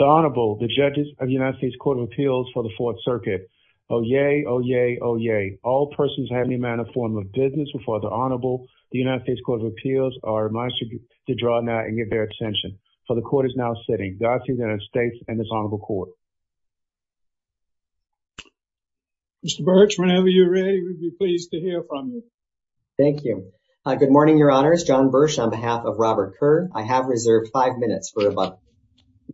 The Honorable, the judges of the United States Court of Appeals for the Fourth Circuit. Oh yay, oh yay, oh yay. All persons have any manner or form of business before the Honorable, the United States Court of Appeals, are admonished to draw now and give their attention. For the Court is now sitting. Godspeed to the United States and this Honorable Court. Mr. Birch, whenever you're ready, we'd be pleased to hear from you. Thank you. Good morning, Your Honors. John Birch on behalf of Robert Kerr. I have reserved five minutes for a moment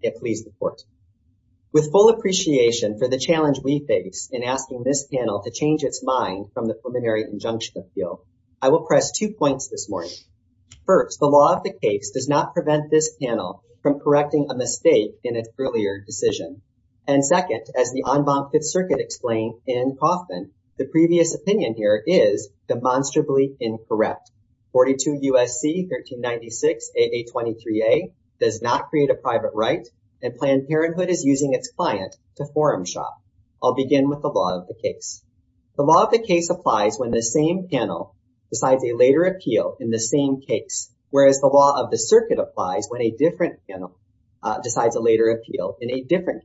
to please the Court. With full appreciation for the challenge we face in asking this panel to change its mind from the preliminary injunction appeal, I will press two points this morning. First, the law of the case does not prevent this panel from correcting a mistake in its earlier decision. And second, as the en banc Fifth Circuit explained in Kaufman, the previous opinion here is demonstrably incorrect. 42 U.S.C. 1396 AA23A does not create a private right and Planned Parenthood is using its client to forum shop. I'll begin with the law of the case. The law of the case applies when the same panel decides a later appeal in the same case, whereas the law of the circuit applies when a different panel decides a later appeal in a The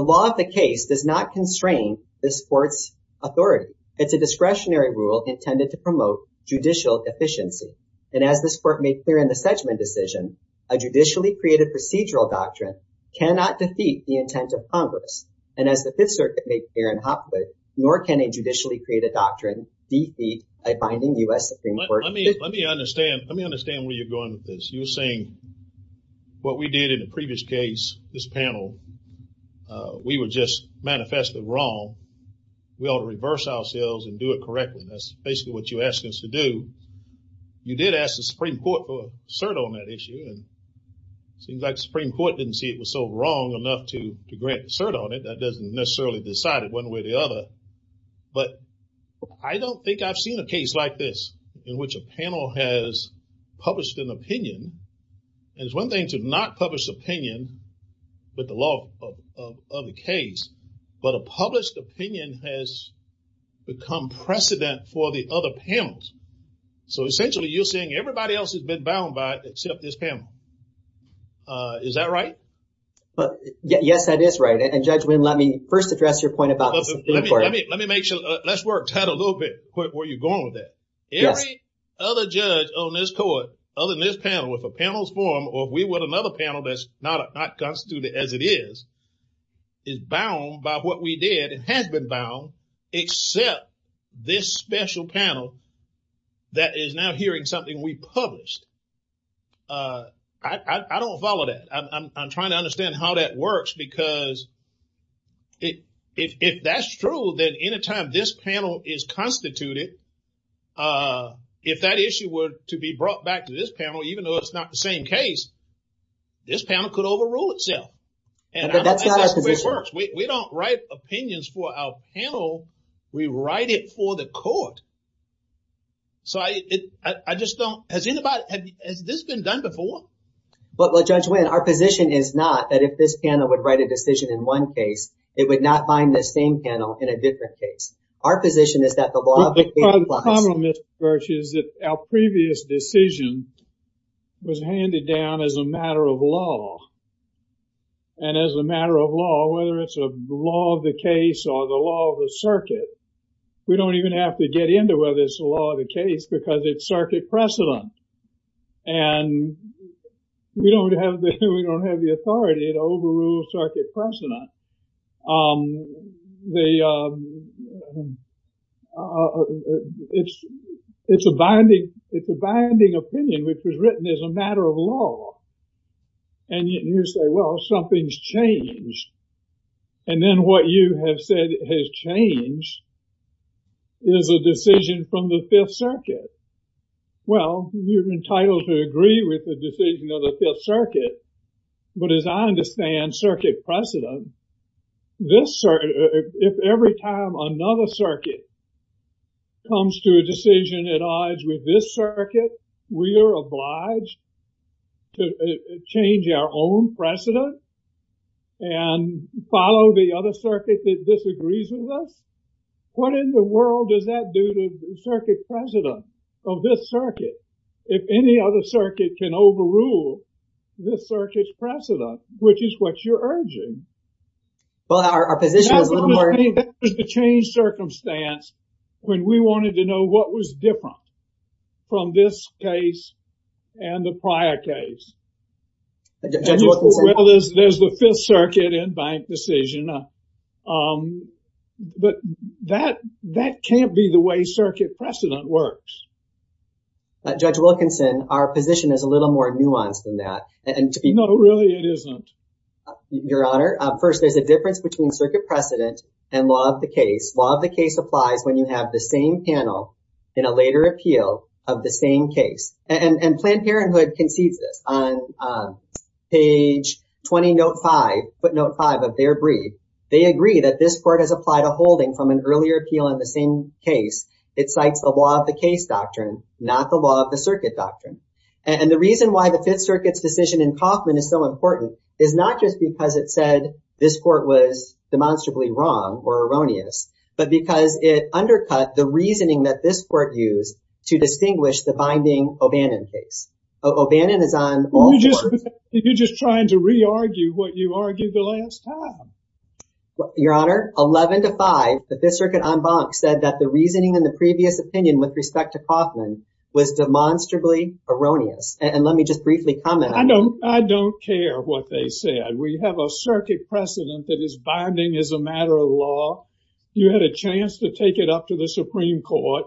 law of the case does not constrain this Court's authority. It's a discretionary rule intended to promote judicial efficiency. And as this Court made clear in the Sedgman decision, a judicially created procedural doctrine cannot defeat the intent of Congress. And as the Fifth Circuit made clear in Hopwood, nor can a judicially created doctrine defeat a binding U.S. Supreme Court. Let me understand where you're going with this. You're saying we were just manifestly wrong. We ought to reverse ourselves and do it correctly. That's basically what you're asking us to do. You did ask the Supreme Court for a cert on that issue, and it seems like the Supreme Court didn't see it was so wrong enough to grant a cert on it. That doesn't necessarily decide it one way or the other. But I don't think I've seen a case like this in which a panel has published an opinion. And it's one thing to not publish opinion with the law of the case, but a published opinion has become precedent for the other panels. So essentially you're saying everybody else has been bound by it except this panel. Is that right? But yes, that is right. And Judge Wynn, let me first address your point about the Supreme Court. Let me make sure. Let's work that a little bit where you're going with that. Every other judge other than this panel, if a panel is formed, or if we were another panel that's not constituted as it is, is bound by what we did and has been bound except this special panel that is now hearing something we published. I don't follow that. I'm trying to understand how that works because if that's true, then any time this panel is constituted, if that issue were to be brought back to this panel, even though it's not the same case, this panel could overrule itself. And that's not how it works. We don't write opinions for our panel. We write it for the court. So I just don't... Has this been done before? But Judge Wynn, our position is not that if this panel would write a decision in one case, it would not bind the same panel in a different case. Our position is that the law of the case applies. The problem, Mr. Birch, is that our previous decision was handed down as a matter of law. And as a matter of law, whether it's a law of the case or the law of the circuit, we don't even have to get into whether it's a law of the case because it's circuit precedent. And we don't have the authority to overrule circuit precedent. It's a binding opinion, which was written as a matter of law. And you say, well, something's changed. And then what you have said has changed is a decision from the Fifth Circuit. Well, you're entitled to agree with the decision of the Fifth Circuit. But as I understand circuit precedent, if every time another circuit comes to a decision at odds with this circuit, we are obliged to change our own precedent and follow the other circuit that disagrees with us. What in the world does that do to the circuit precedent of this circuit? If any other circuit can overrule this circuit's precedent, which is what you're urging. Well, our position is a little more. That was the change circumstance when we wanted to know what was different from this case and the prior case. Judge Wilkinson? Well, there's the Fifth Circuit and bank decision. But that can't be the way circuit precedent works. Judge Wilkinson, our position is a little more nuanced than that. No, really it isn't. Your Honor, first, there's a difference between circuit precedent and law of the case. Law of the case applies when you have the same panel in a later appeal of the same case. And Planned Parenthood concedes this on page 20, note 5, footnote 5 of their brief. They agree that this court has applied a holding from an earlier appeal in the same case. It cites the law of the case doctrine, not the law of the circuit doctrine. And the reason why the Fifth Circuit's decision in Kaufman is so important is not just because it said this court was demonstrably wrong or erroneous, but because it undercut the reasoning that this court used to distinguish the binding O'Bannon case. O'Bannon is on all courts. You're just trying to re-argue what you argued the last time. Your Honor, 11 to 5, the Fifth Circuit en banc said that the reasoning in the previous opinion with respect to Kaufman was demonstrably erroneous. And let me just briefly comment on that. I don't care what they said. We have a circuit precedent that is binding as a matter of law. You had a chance to take it up to the Supreme Court.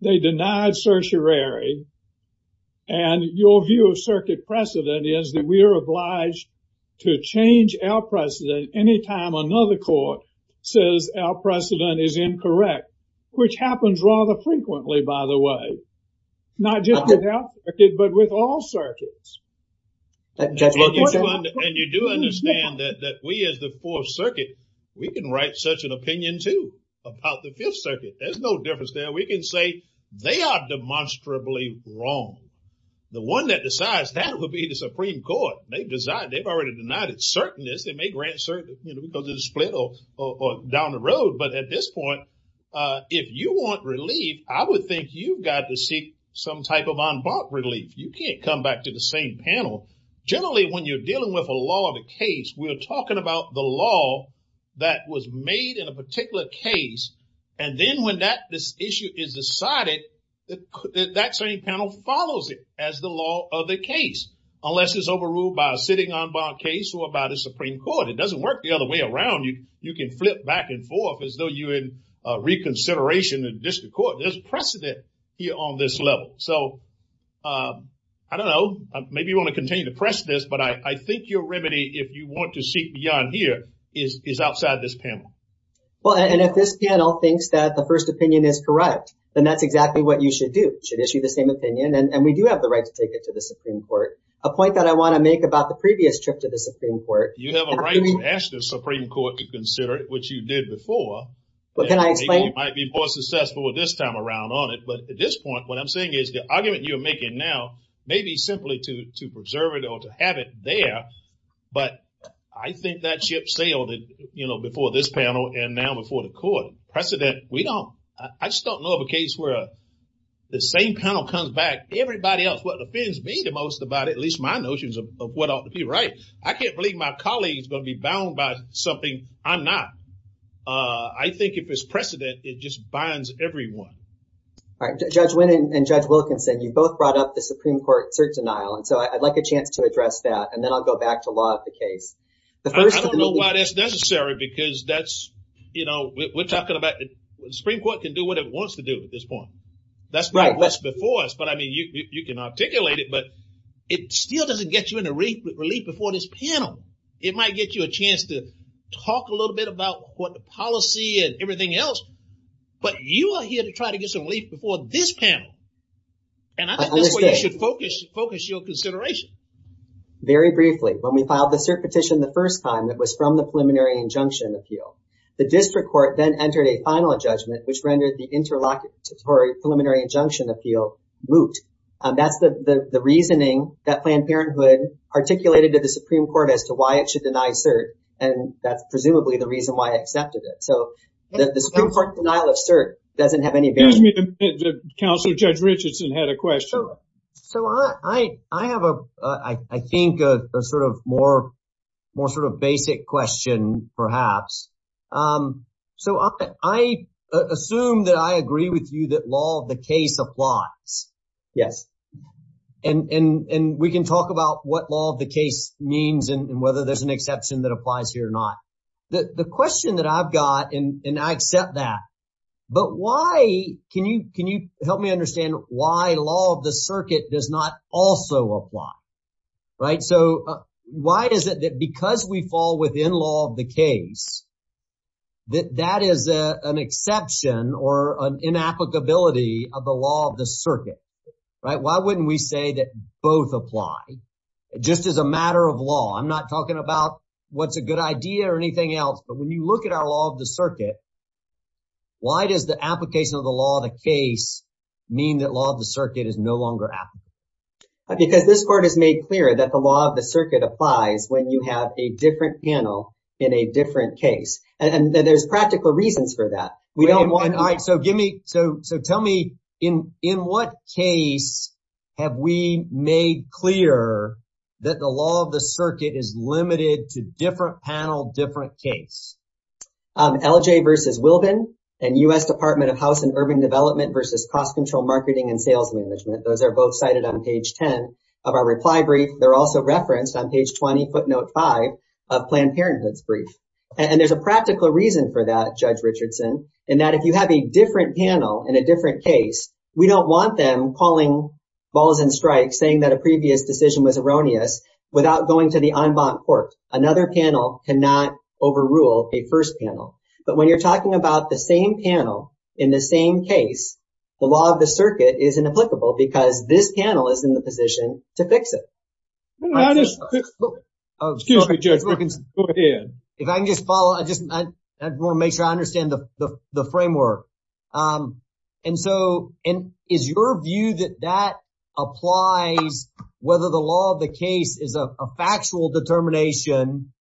They denied certiorari. And your view of circuit precedent is that we are obliged to change our precedent any time another court says our precedent is incorrect, which happens rather frequently, by the way. Not just with our circuit, but with all circuits. And you do understand that we as the Fourth Circuit, we can write such an opinion, too, about the Fifth Circuit. There's no difference there. We can say they are demonstrably wrong. The one that decides that would be the Supreme Court. They've decided. They've already denied its certainness. They may grant certain, you know, because of the split or down the road. But at this point, if you want relief, I would think you've got to seek some type of en banc relief. You can't come back to the same panel. Generally, when you're dealing with a law of the case, we're talking about the law that was made in a particular case. And then when this issue is decided, that same panel follows it as the law of the case. Unless it's overruled by a sitting en banc case or by the Supreme Court. It doesn't work the other way around. You can flip back and forth as though you're in reconsideration in district court. There's precedent here on this level. So I don't know. Maybe you want to continue to press this. I think your remedy, if you want to seek beyond here, is outside this panel. Well, and if this panel thinks that the first opinion is correct, then that's exactly what you should do. You should issue the same opinion. And we do have the right to take it to the Supreme Court. A point that I want to make about the previous trip to the Supreme Court. You have a right to ask the Supreme Court to consider it, which you did before. You might be more successful this time around on it. But at this point, what I'm saying is the argument you're making now, maybe simply to preserve it or to have it there. But I think that ship sailed before this panel and now before the court. Precedent, we don't. I just don't know of a case where the same panel comes back. Everybody else, what offends me the most about at least my notions of what ought to be right. I can't believe my colleagues are going to be bound by something I'm not. I think if it's precedent, it just binds everyone. All right. Judge Wynn and Judge Wilkinson, you both brought up the Supreme Court cert denial. And so I'd like a chance to address that. And then I'll go back to a lot of the case. I don't know why that's necessary, because that's, you know, we're talking about the Supreme Court can do what it wants to do at this point. That's right. That's before us. But I mean, you can articulate it, but it still doesn't get you into relief before this panel. It might get you a chance to talk a little bit about what the policy and everything else. But you are here to try to get some relief before this panel. And I think that's where you should focus your consideration. Very briefly, when we filed the cert petition the first time, it was from the preliminary injunction appeal. The district court then entered a final judgment, which rendered the interlocutory preliminary injunction appeal moot. That's the reasoning that Planned Parenthood articulated to the Supreme Court as to why it should deny cert. And that's presumably the reason why it accepted it. The Supreme Court's denial of cert doesn't have any bearing. Excuse me, Counselor, Judge Richardson had a question. So I have, I think, a sort of more sort of basic question, perhaps. So I assume that I agree with you that law of the case applies. Yes. And we can talk about what law of the case means and whether there's an exception that applies here or not. The question that I've got, and I accept that. But why, can you can you help me understand why law of the circuit does not also apply? Right. So why is it that because we fall within law of the case, that that is an exception or an inapplicability of the law of the circuit? Right. Why wouldn't we say that both apply just as a matter of law? I'm not talking about what's a good idea or anything else. But when you look at our law of the circuit. Why does the application of the law of the case mean that law of the circuit is no longer applicable? Because this court has made clear that the law of the circuit applies when you have a different panel in a different case. And there's practical reasons for that. We don't want. So give me so. So tell me, in in what case have we made clear that the law of the circuit is limited to different panel, different case? LJ versus Wilbin and U.S. Department of House and Urban Development versus Cost Control, Marketing and Sales Management. Those are both cited on page 10 of our reply brief. They're also referenced on page 20, footnote five of Planned Parenthood's brief. And there's a practical reason for that, Judge Richardson, in that if you have a different panel in a different case, we don't want them calling balls and strikes, saying that a previous decision was erroneous without going to the en banc court. Another panel cannot overrule a first panel. But when you're talking about the same panel in the same case, the law of the circuit is inapplicable because this panel is in the position to fix it. I just. Oh, excuse me, Judge. If I can just follow, I just want to make sure I understand the framework. And so is your view that that applies whether the law of the case is a factual determination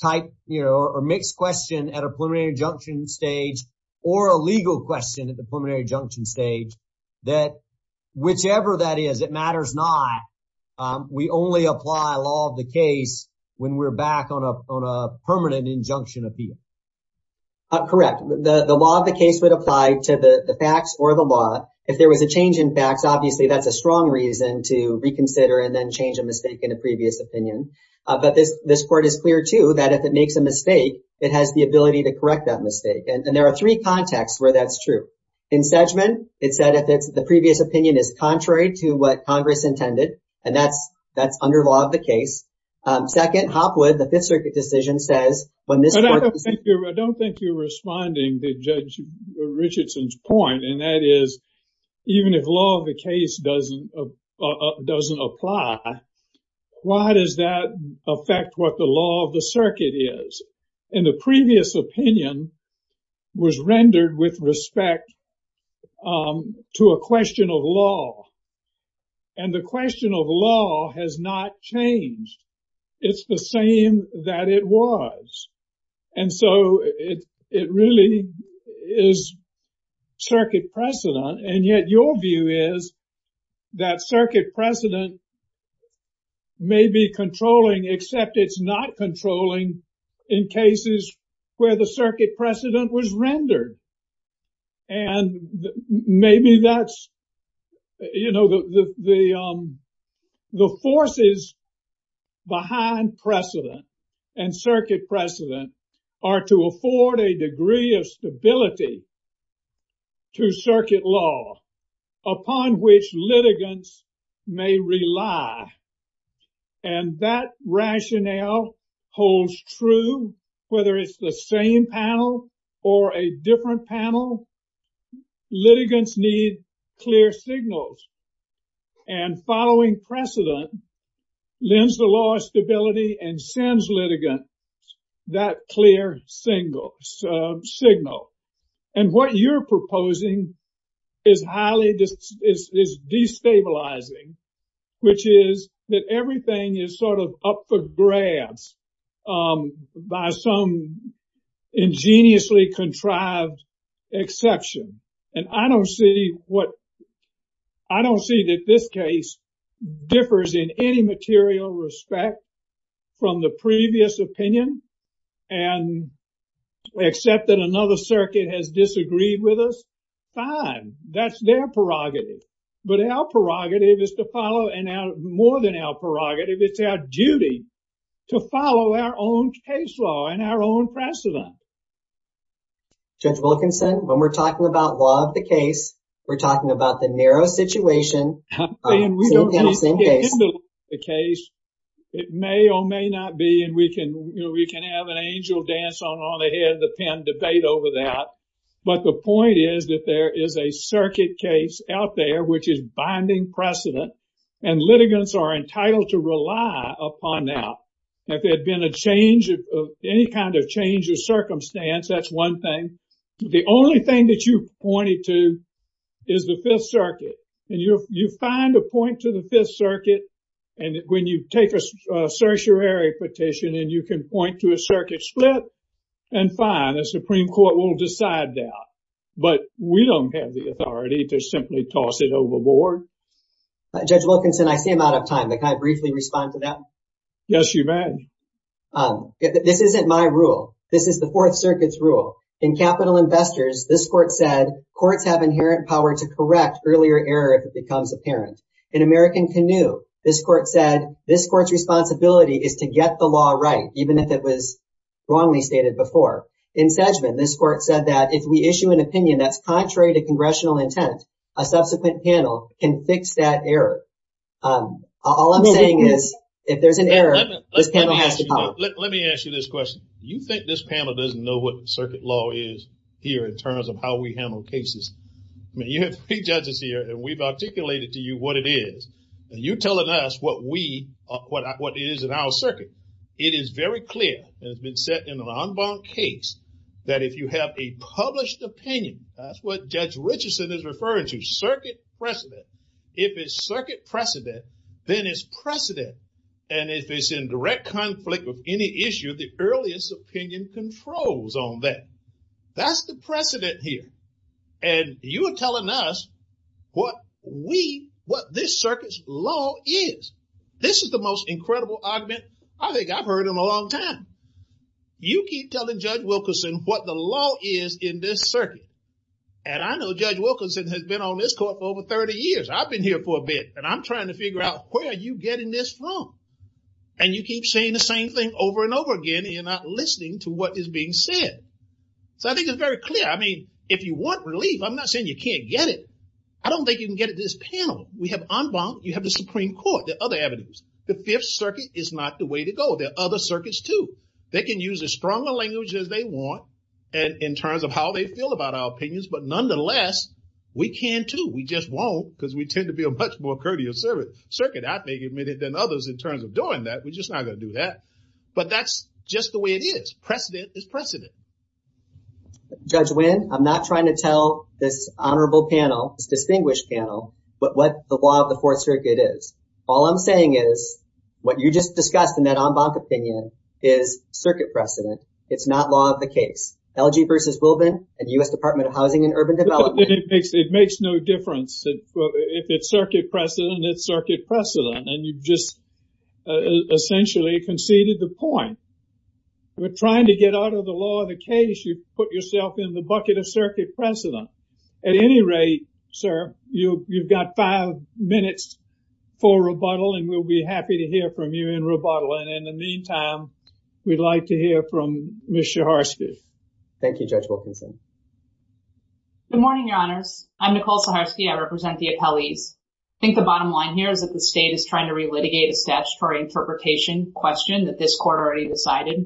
type or mixed question at a preliminary injunction stage or a legal question at the preliminary injunction stage, that whichever that is, it matters not. We only apply law of the case when we're back on a permanent injunction appeal. Correct. The law of the case would apply to the facts or the law. If there was a change in facts, obviously, that's a strong reason to reconsider and then change a mistake in a previous opinion. But this court is clear, too, that if it makes a mistake, it has the ability to correct that mistake. And there are three contexts where that's true. In Sedgman, it said if it's the previous opinion is contrary to what Congress intended. And that's that's under law of the case. Second, Hopwood, the Fifth Circuit decision says when this. But I don't think you're responding to Judge Richardson's point. And that is even if law of the case doesn't doesn't apply, why does that affect what the law of the circuit is? And the previous opinion was rendered with respect to a question of law. And the question of law has not changed. It's the same that it was. And so it really is circuit precedent. And yet your view is that circuit precedent may be controlling, except it's not controlling in cases where the circuit precedent was rendered. And maybe that's, you know, the forces behind precedent and circuit precedent are to afford a degree of stability to circuit law upon which litigants may rely. And that rationale holds true whether it's the same panel or a different panel. Litigants need clear signals and following precedent lends the law stability and sends litigants that clear signal. And what you're proposing is highly destabilizing, which is that everything is sort of up for grabs by some ingeniously contrived exception. And I don't see what I don't see that this case differs in any material respect from the previous opinion and except that another circuit has disagreed with us. Fine, that's their prerogative. But our prerogative is to follow and more than our prerogative, it's our duty to follow our own case law and our own precedent. Judge Wilkinson, when we're talking about law of the case, we're talking about the narrow situation in the same case. It may or may not be. And we can, you know, we can have an angel dance on all ahead of the pen debate over that. But the point is that there is a circuit case out there which is binding precedent and litigants are entitled to rely upon that. If there had been a change of any kind of change of circumstance, that's one thing. The only thing that you pointed to is the Fifth Circuit. And you find a point to the Fifth Circuit and when you take a certiorari petition and you can point to a circuit split and fine, the Supreme Court will decide that. But we don't have the authority to simply toss it overboard. Judge Wilkinson, I see I'm out of time. Can I briefly respond to that? Yes, you may. This isn't my rule. This is the Fourth Circuit's rule. In Capital Investors, this court said courts have inherent power to correct earlier error if it becomes apparent. In American Canoe, this court said this court's responsibility is to get the law right, even if it was wrongly stated before. In Sedgman, this court said that if we issue an opinion that's contrary to congressional intent, a subsequent panel can fix that error. All I'm saying is, if there's an error, this panel has the power. Let me ask you this question. You think this panel doesn't know what circuit law is here in terms of how we handle cases? I mean, you have three judges here and we've articulated to you what it is. And you're telling us what it is in our circuit. It is very clear, and it's been set in an en banc case, that if you have a published opinion, that's what Judge Richardson is referring to, circuit precedent. If it's circuit precedent, then it's precedent. And if it's in direct conflict with any issue, the earliest opinion controls on that. That's the precedent here. And you are telling us what this circuit's law is. This is the most incredible argument I think I've heard in a long time. You keep telling Judge Wilkerson what the law is in this circuit. And I know Judge Wilkerson has been on this court for over 30 years. I've been here for a bit, and I'm trying to figure out where are you getting this from? And you keep saying the same thing over and over again, and you're not listening to what is being said. So I think it's very clear. I mean, if you want relief, I'm not saying you can't get it. I don't think you can get it this panel. We have en banc, you have the Supreme Court, the other avenues. The Fifth Circuit is not the way to go. There are other circuits too. They can use as strong a language as they want in terms of how they feel about our opinions. But nonetheless, we can too. We just won't because we tend to be a much more courteous circuit, I think, than others in terms of doing that. We're just not going to do that. But that's just the way it is. Precedent is precedent. Judge Wynn, I'm not trying to tell this honorable panel, this distinguished panel, what the law of the Fourth Circuit is. All I'm saying is what you just discussed in that en banc opinion is circuit precedent. It's not law of the case. LG v. U.S. Department of Housing and Urban Development. It makes no difference. If it's circuit precedent, it's circuit precedent. And you've just essentially conceded the point. We're trying to get out of the law of the case. You put yourself in the bucket of circuit precedent. At any rate, sir, you've got five minutes for rebuttal and we'll be happy to hear from you in rebuttal. And in the meantime, we'd like to hear from Ms. Schaharsky. Thank you, Judge Wilkinson. Good morning, Your Honors. I'm Nicole Schaharsky. I represent the appellees. I think the bottom line here is that the state is trying to relitigate a statutory interpretation question that this court already decided.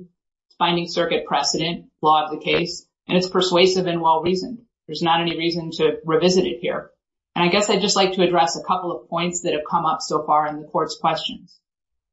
It's finding circuit precedent, law of the case, and it's persuasive and well-reasoned. There's not any reason to revisit it here. And I guess I'd just like to address a couple of points that have come up so far in the court's questions.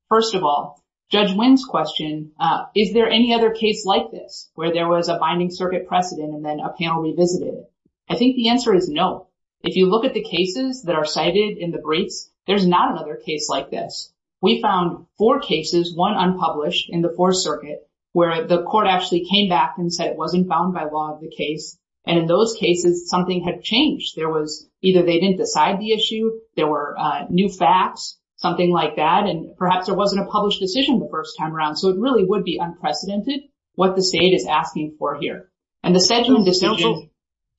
First of all, Judge Wynn's question, is there any other case like this where there was a binding circuit precedent and then a panel revisited it? I think the answer is no. If you look at the cases that are cited in the briefs, there's not another case like this. We found four cases, one unpublished in the Fourth Circuit, where the court actually came back and said it wasn't found by law of the case. And in those cases, something had changed. There was either they didn't decide the issue, there were new facts, something like that, and perhaps there wasn't a published decision the first time around. So it really would be unprecedented what the state is asking for here. And the Sedgman decision-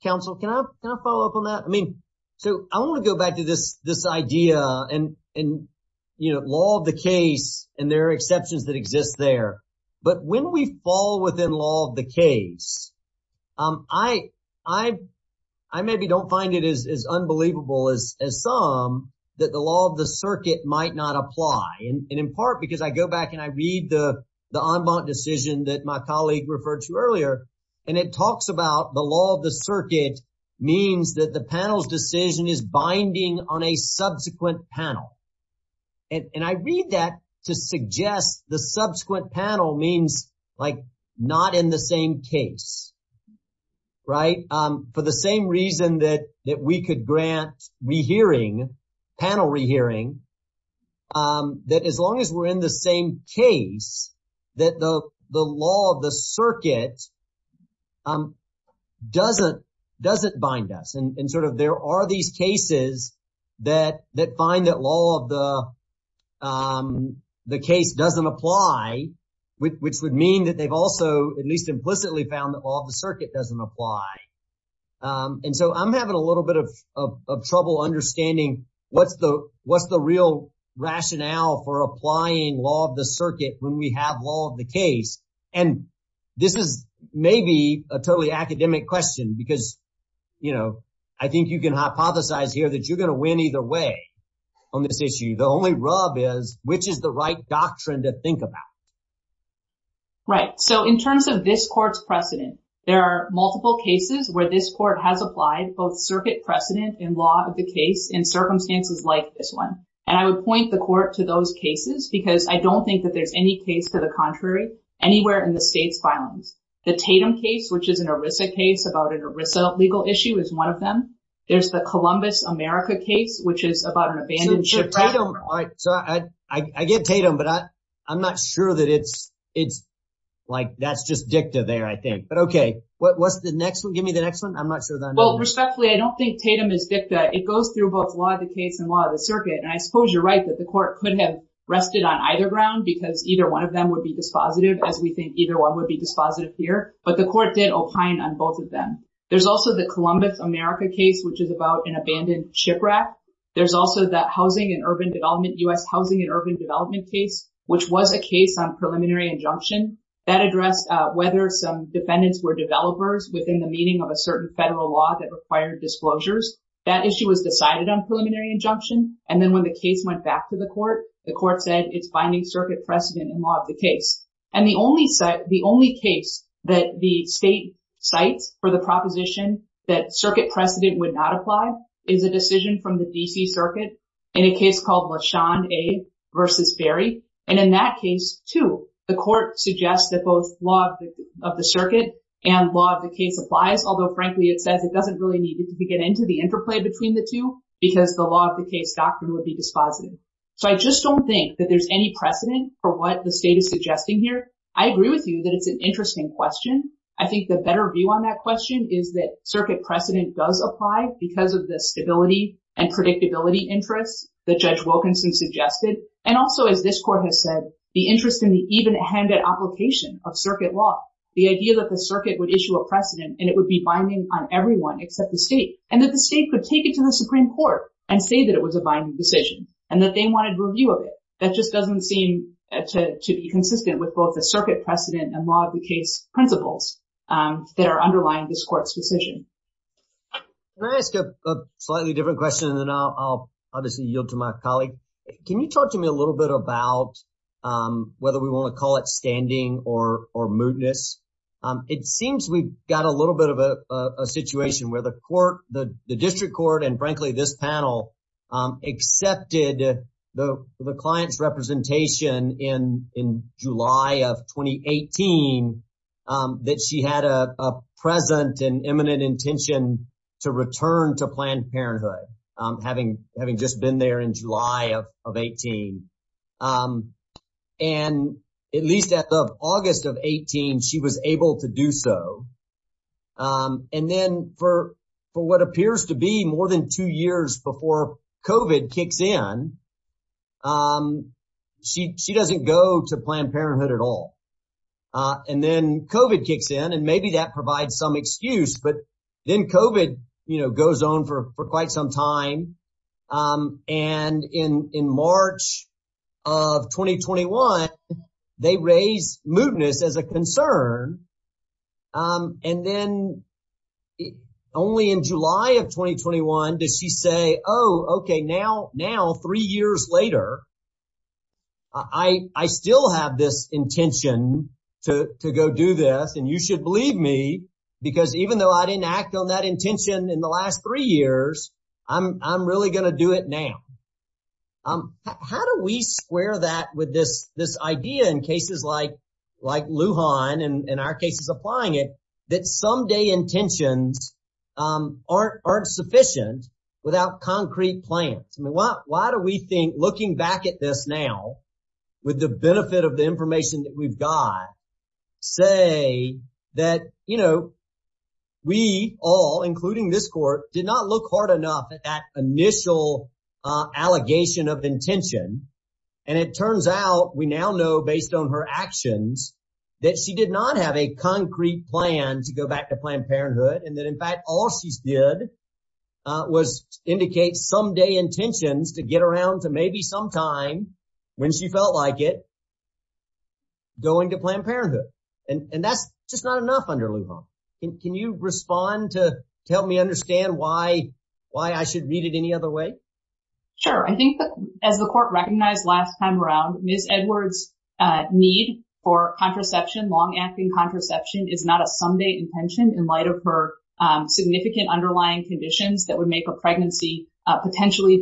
Counsel, can I follow up on that? I mean, so I want to go back to this idea and, you know, law of the case and there are exceptions that exist there. But when we fall within law of the case, I maybe don't find it as unbelievable as some that the law of the circuit might not apply. And in part because I go back and I read the en banc decision that my colleague referred to earlier, and it talks about the law of the circuit means that the panel's decision is binding on a subsequent panel. And I read that to suggest the subsequent panel means like not in the same case, right? For the same reason that we could grant rehearing, panel rehearing, that as long as we're in the same case, that the law of the circuit doesn't bind us. And sort of there are these cases that find that law of the case doesn't apply, which would mean that they've also at least implicitly found that law of the circuit doesn't apply. And so I'm having a little bit of trouble understanding what's the what's the real rationale for applying law of the circuit when we have law of the case? And this is maybe a totally academic question because, you know, I think you can hypothesize here that you're going to win either way on this issue. The only rub is which is the right doctrine to think about? Right. So in terms of this court's precedent, there are multiple cases where this court has applied both circuit precedent and law of the case in circumstances like this one. And I would point the court to those cases because I don't think that there's any case to the contrary anywhere in the state's filings. The Tatum case, which is an ERISA case about an ERISA legal issue is one of them. There's the Columbus America case, which is about an abandoned ship. All right. So I get Tatum, but I'm not sure that it's it's like that's just dicta there, I think. But OK, what's the next one? Give me the next one. I'm not sure. Well, respectfully, I don't think Tatum is dicta. It goes through both law of the case and law of the circuit. And I suppose you're right that the court could have rested on either ground because either one of them would be dispositive as we think either one would be dispositive here. But the court did opine on both of them. There's also the Columbus America case, which is about an abandoned shipwreck. There's also that housing and urban development, U.S. housing and urban development case, which was a case on preliminary injunction that addressed whether some defendants were developers within the meaning of a certain federal law that required disclosures. That issue was decided on preliminary injunction. And then when the case went back to the court, the court said it's binding circuit precedent and law of the case. And the only set the only case that the state cites for the proposition that circuit precedent would not apply is a decision from the D.C. Circuit in a case called Lashon A. versus Ferry. And in that case, too, the court suggests that both law of the circuit and law of the case applies, although frankly, it says it doesn't really need to get into the interplay between the two because the law of the case doctrine would be dispositive. So I just don't think that there's any precedent for what the state is suggesting here. I agree with you that it's an interesting question. I think the better view on that question is that circuit precedent does apply because of the stability and predictability interests that Judge Wilkinson suggested. And also, as this court has said, the interest in the evenhanded application of circuit law, the idea that the circuit would issue a precedent and it would be binding on everyone except the state and that the state could take it to the Supreme Court and say that it was a binding decision and that they wanted review of it. That just doesn't seem to be consistent with both the circuit precedent and law of the case principles that are underlying this court's decision. Can I ask a slightly different question and then I'll obviously yield to my colleague. Can you talk to me a little bit about whether we want to call it standing or mootness? It seems we've got a little bit of a situation where the court, the district court, and frankly, this panel accepted the client's representation in July of 2018 that she had a present and imminent intention to return to Planned Parenthood, having just been there in July of 18. And at least at the August of 18, she was able to do so. And then for what appears to be more than two years before COVID kicks in, she doesn't go to Planned Parenthood at all. And then COVID kicks in and maybe that provides some excuse, but then COVID goes on for quite some time. And in March of 2021, they raise mootness as a concern. And then only in July of 2021 does she say, oh, OK, now three years later, I still have this intention to go do this. And you should believe me, because even though I didn't act on that intention in the last three years, I'm really going to do it now. How do we square that with this idea in cases like Lujan and our cases applying it that someday intentions aren't sufficient without concrete plans? Why do we think looking back at this now with the benefit of the information that we've got say that we all, including this court, did not look hard enough at that initial allegation of intention. And it turns out we now know based on her actions that she did not have a concrete plan to go back to Planned Parenthood. And that, in fact, all she did was indicate someday intentions to get around to maybe sometime when she felt like it going to Planned Parenthood. And that's just not enough under Lujan. Can you respond to help me understand why I should read it any other way? Sure. I think as the court recognized last time around, Ms. Edwards' need for contraception, long-acting contraception, is not a someday intention in light of her significant underlying conditions that would make a pregnancy potentially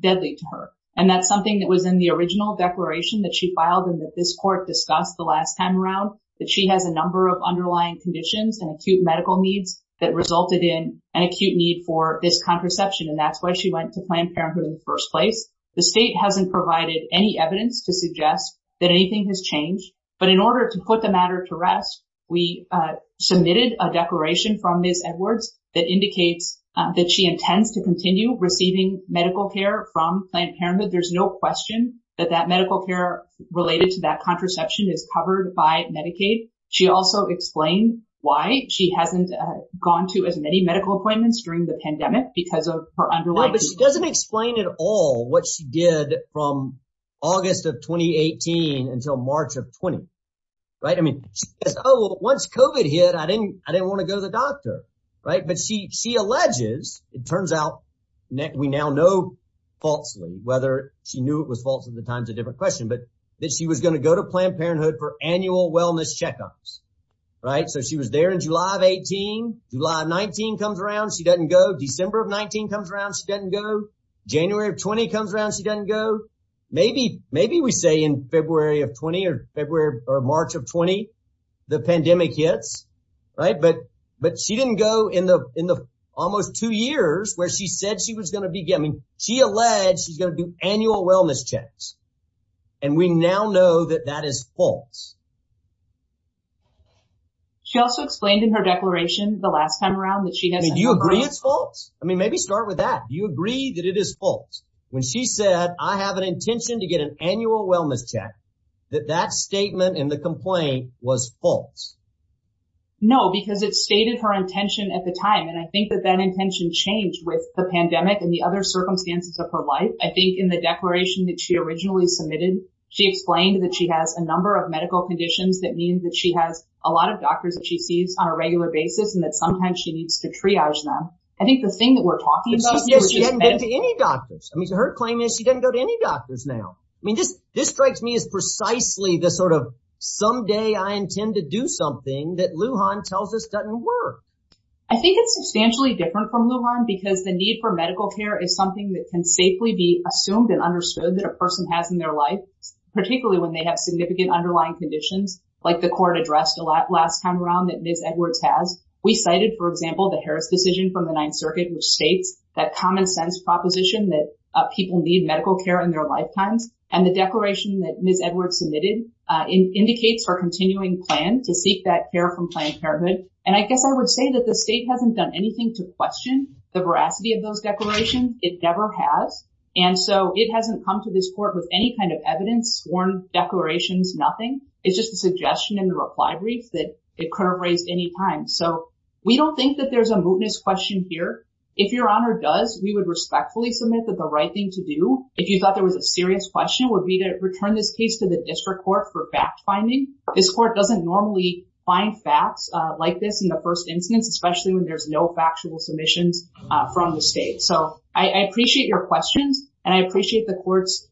deadly to her. And that's something that was in the original declaration that she filed and that this court discussed the last time around, that she has a number of underlying conditions and acute medical needs that resulted in an acute need for this contraception. And that's why she went to Planned Parenthood in the first place. The state hasn't provided any evidence to suggest that anything has changed. But in order to put the matter to rest, we submitted a declaration from Ms. Edwards that indicates that she intends to continue receiving medical care from Planned Parenthood. There's no question that that medical care related to that contraception is covered by Medicaid. She also explained why she hasn't gone to as many medical appointments during the pandemic because of her underlying... No, but she doesn't explain at all what she did from August of 2018 until March of 2020. I mean, once COVID hit, I didn't want to go to the doctor. But she alleges, it turns out, we now know falsely, whether she knew it was false at the time is a different question, but that she was going to go to Planned Parenthood for annual wellness checkups. So she was there in July of 2018. July of 2019 comes around, she doesn't go. December of 2019 comes around, she doesn't go. January of 2020 comes around, she doesn't go. Maybe we say in February of 2020 or March of 2020, the pandemic hits, right? But she didn't go in the almost two years where she said she was going to be... I mean, she alleged she's going to do annual wellness checks. And we now know that that is false. She also explained in her declaration the last time around that she has... I mean, do you agree it's false? I mean, maybe start with that. Do you agree that it is false? When she said, I have an intention to get an annual wellness check, that that statement and the complaint was false? No, because it stated her intention at the time. And I think that that intention changed with the pandemic and the other circumstances of her life. I think in the declaration that she originally submitted, she explained that she has a number of medical conditions that means that she has a lot of doctors that she sees on a regular basis and that sometimes she needs to triage them. I think the thing that we're talking about... She hasn't been to any doctors. I mean, her claim is she doesn't go to any doctors now. I mean, this strikes me as precisely the sort of someday I intend to do something that Lujan tells us doesn't work. I think it's substantially different from Lujan because the need for medical care is something that can safely be assumed and understood that a person has in their life, particularly when they have significant underlying conditions like the court addressed last time around that Ms. Edwards has. We cited, for example, the Harris decision from the Ninth Circuit, which states that common sense proposition that people need medical care in their lifetimes. And the declaration that Ms. Edwards submitted indicates her continuing plan to seek that care from Planned Parenthood. And I guess I would say that the state hasn't done anything to question the veracity of those declarations. It never has. And so it hasn't come to this court with any kind of evidence, sworn declarations, nothing. It's just a suggestion in the reply brief that it couldn't raise any time. So we don't think that there's a mootness question here. If Your Honor does, we would respectfully submit that the right thing to do, if you thought there was a serious question, would be to return this case to the district court for fact-finding. This court doesn't normally find facts like this in the first instance, especially when there's no factual submissions from the state. So I appreciate your questions. And I appreciate the court's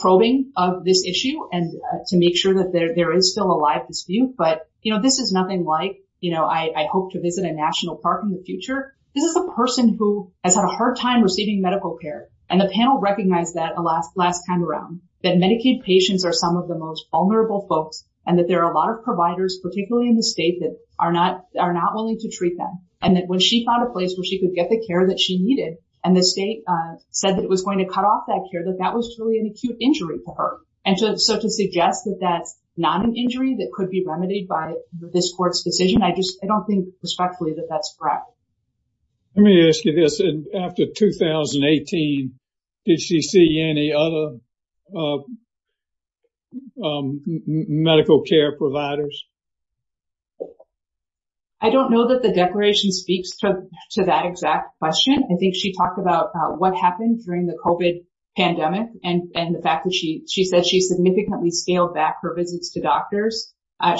probing of this issue and to make sure that there is still a live dispute. But, you know, this is nothing like, you know, I hope to visit a national park in the future. This is a person who has had a hard time receiving medical care. And the panel recognized that last time around, that Medicaid patients are some of the most vulnerable folks and that there are a lot of providers, particularly in the state, that are not willing to treat them. And that when she found a care that she needed, and the state said that it was going to cut off that care, that that was truly an acute injury for her. And so to suggest that that's not an injury that could be remedied by this court's decision, I just, I don't think respectfully that that's correct. Let me ask you this. After 2018, did she see any other medical care providers? I don't know that the declaration speaks to that exact question. I think she talked about what happened during the COVID pandemic and the fact that she said she significantly scaled back her visits to doctors.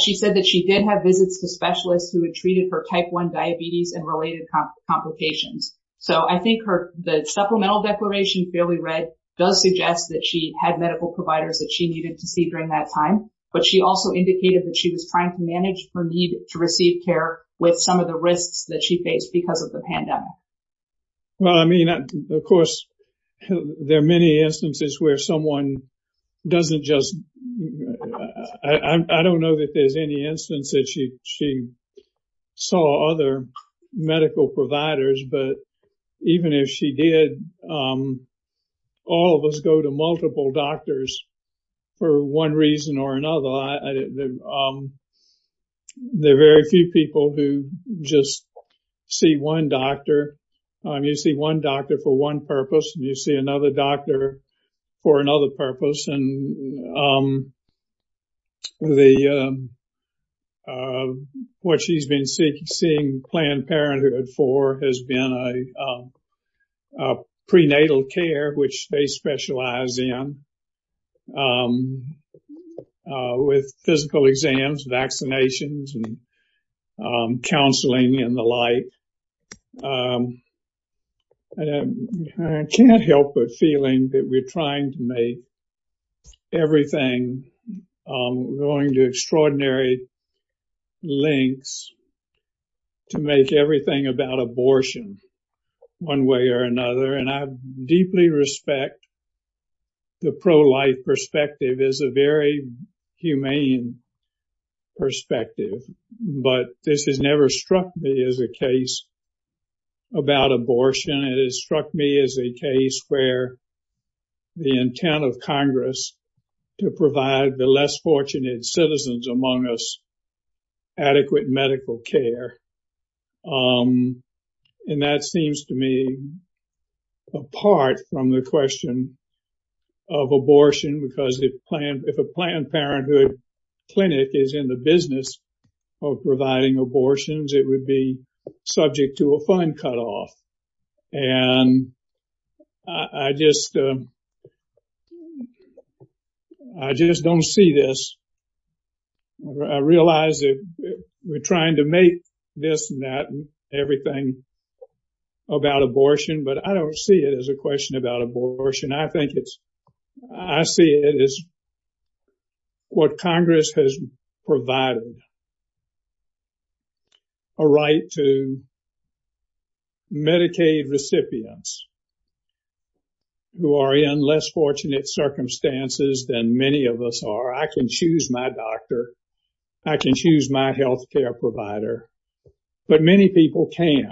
She said that she did have visits to specialists who had treated her type one diabetes and related complications. So I think the supplemental declaration clearly does suggest that she had medical providers that she needed to see during that time. But she also indicated that she was trying to manage her need to receive care with some of the risks that she faced because of the pandemic. Well, I mean, of course, there are many instances where someone doesn't just, I don't know that there's any instance that she saw other medical providers, but even if she did, all of us go to multiple doctors for one reason or another. There are very few people who just see one doctor. You see one doctor for one purpose, and you see another doctor for another purpose. And what she's been seeing Planned Parenthood for has been prenatal care, which they specialize in with physical exams, vaccinations, and counseling and the like. I can't help but feeling that we're trying to make everything going to extraordinary lengths to make everything about abortion one way or another. And I deeply respect the pro-life perspective is a very humane perspective. But this has never struck me as a case about abortion. It has struck me as a case where the intent of Congress to provide the less fortunate citizens among us adequate medical care. And that seems to me apart from the question of abortion because if a Planned Parenthood clinic is in the business of providing abortions, it would be subject to a fund cutoff. And I just don't see this. I realize that we're trying to make this and that and everything about abortion, but I don't see it as a question about abortion. I think it's, I see it as what Congress has provided, a right to Medicaid recipients who are in less fortunate circumstances than many of us are. I can choose my doctor. I can choose my health care provider, but many people can't.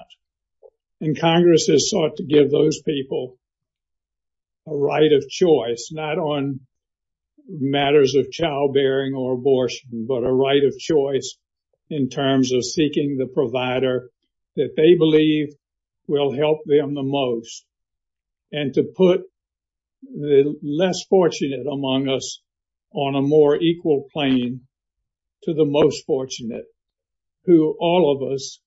And Congress has sought to give those people a right of choice, not on matters of childbearing or abortion, but a right of choice in terms of seeking the provider that they believe will help them the most. And to put the less fortunate among us on a more equal plane to the most fortunate who all of us,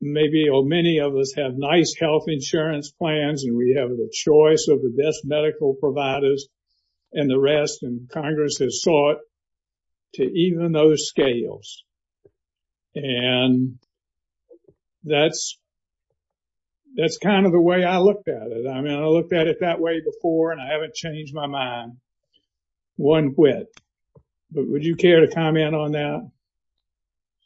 maybe many of us have nice health insurance plans and we have the choice of the best medical providers and the rest and Congress has sought to even those scales. And that's that's kind of the way I looked at it. I mean, I looked at it that way before and I haven't changed my mind one whit, but would you care to comment on that?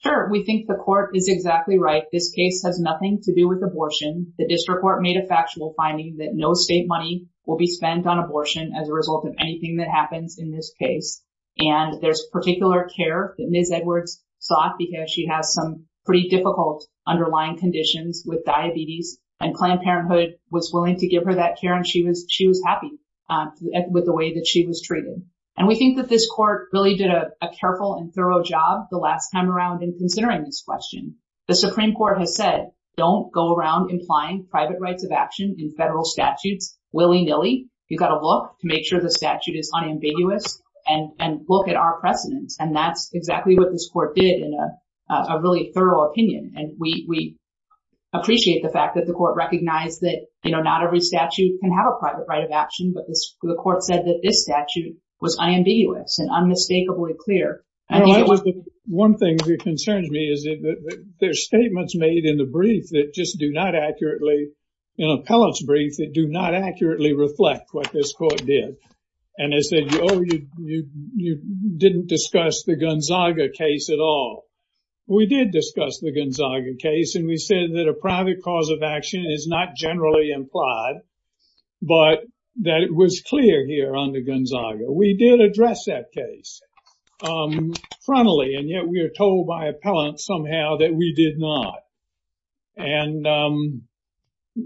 Sure. We think the court is exactly right. This case has nothing to do with abortion. The district court made a factual finding that no state money will be spent on abortion as a result of anything that happens in this case. And there's particular care that Ms. Edwards sought because she has some pretty difficult underlying conditions with diabetes and Planned Parenthood was willing to give her that care. And she was she was happy with the way that she was treated. And we think that this court really did a careful and thorough job the last time around in considering this question. The Supreme Court has said, don't go around implying private rights of action in federal statutes willy-nilly. You've got to look to make sure the statute is unambiguous and look at our precedence. And that's exactly what this court did in a really thorough opinion. And we appreciate the fact that the court recognized that, you know, not every statute can have a private right of action. But the court said that this statute was unambiguous and unmistakably clear. One thing that concerns me is that there's statements made in the brief that just do not accurately, in appellate's brief, that do not accurately reflect what this court did. And they said, oh, you didn't discuss the Gonzaga case at all. We did discuss the Gonzaga case, and we said that a private cause of action is not generally implied, but that it was clear here under Gonzaga. We did address that case frontally, and yet we are told by appellant somehow that we did not. And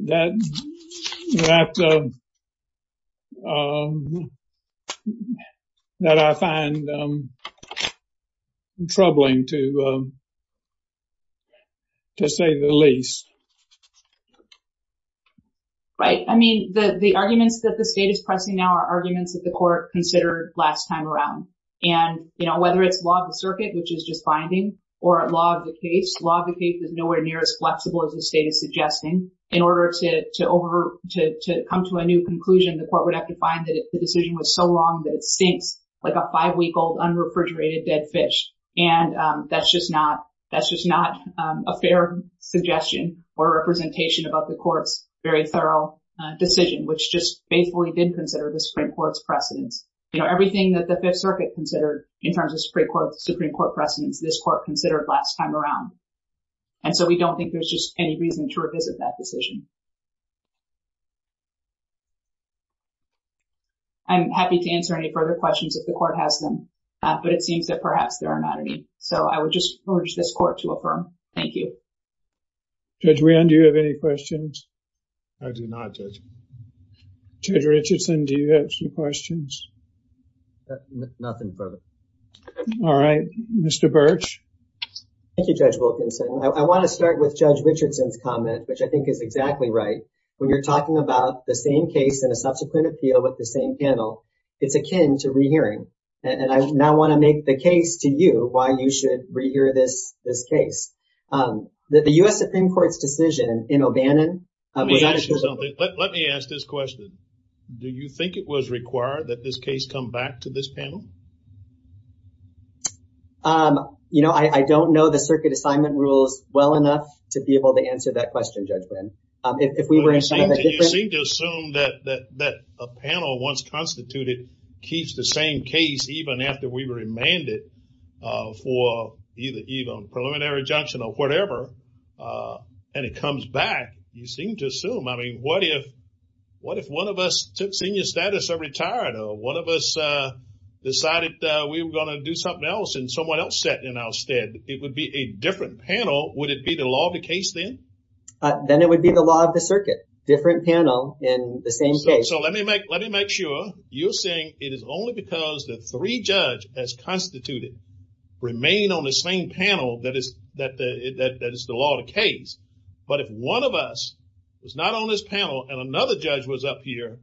that that I find troubling, to say the least. Right. I mean, the arguments that the state is pressing now are arguments that the court considered last time around. And, you know, whether it's law of the circuit, which is just binding, or law of the case, law of the case is nowhere near as flexible as the state is suggesting in order to come to a new conclusion. The court would have to find that the decision was so long that it stinks like a five-week-old unrefrigerated dead fish. And that's just not a fair suggestion or representation about the court's very thorough decision, which just faithfully did consider the Supreme Court's precedents. You know, everything that the Fifth Circuit considered in terms of Supreme Court precedents, this court considered last time around. And so we don't think there's just any reason to revisit that decision. I'm happy to answer any further questions if the court has them, but it seems that perhaps there are not any. So I would just urge this court to affirm. Thank you. Judge Wynn, do you have any questions? I do not, Judge. Judge Richardson, do you have some questions? Nothing further. All right. Mr. Birch? Thank you, Judge Wilkinson. I want to start with Judge Richardson's comment, which I think is exactly right. When you're talking about the same case and a subsequent appeal with the same panel, it's akin to rehearing. And I now want to make the case to you why you should rehear this case. The U.S. Supreme Court's decision in O'Bannon- Let me ask this question. Do you think it was required that this case come back to this panel? You know, I don't know the circuit assignment rules well enough to be able to answer that question, Judge Wynn. If we were- You seem to assume that a panel once constituted keeps the same case even after we remand it for either even preliminary injunction or whatever, and it comes back. You seem to assume, I mean, what if one of us took senior status or retired, one of us decided that we were going to do something else and someone else sat in our stead? It would be a different panel. Would it be the law of the case then? Then it would be the law of the circuit. Different panel in the same case. So let me make sure you're saying it is only because the three judge has constituted remain on the same panel that is the law of the case. But if one of us is not on this panel and another judge was up here,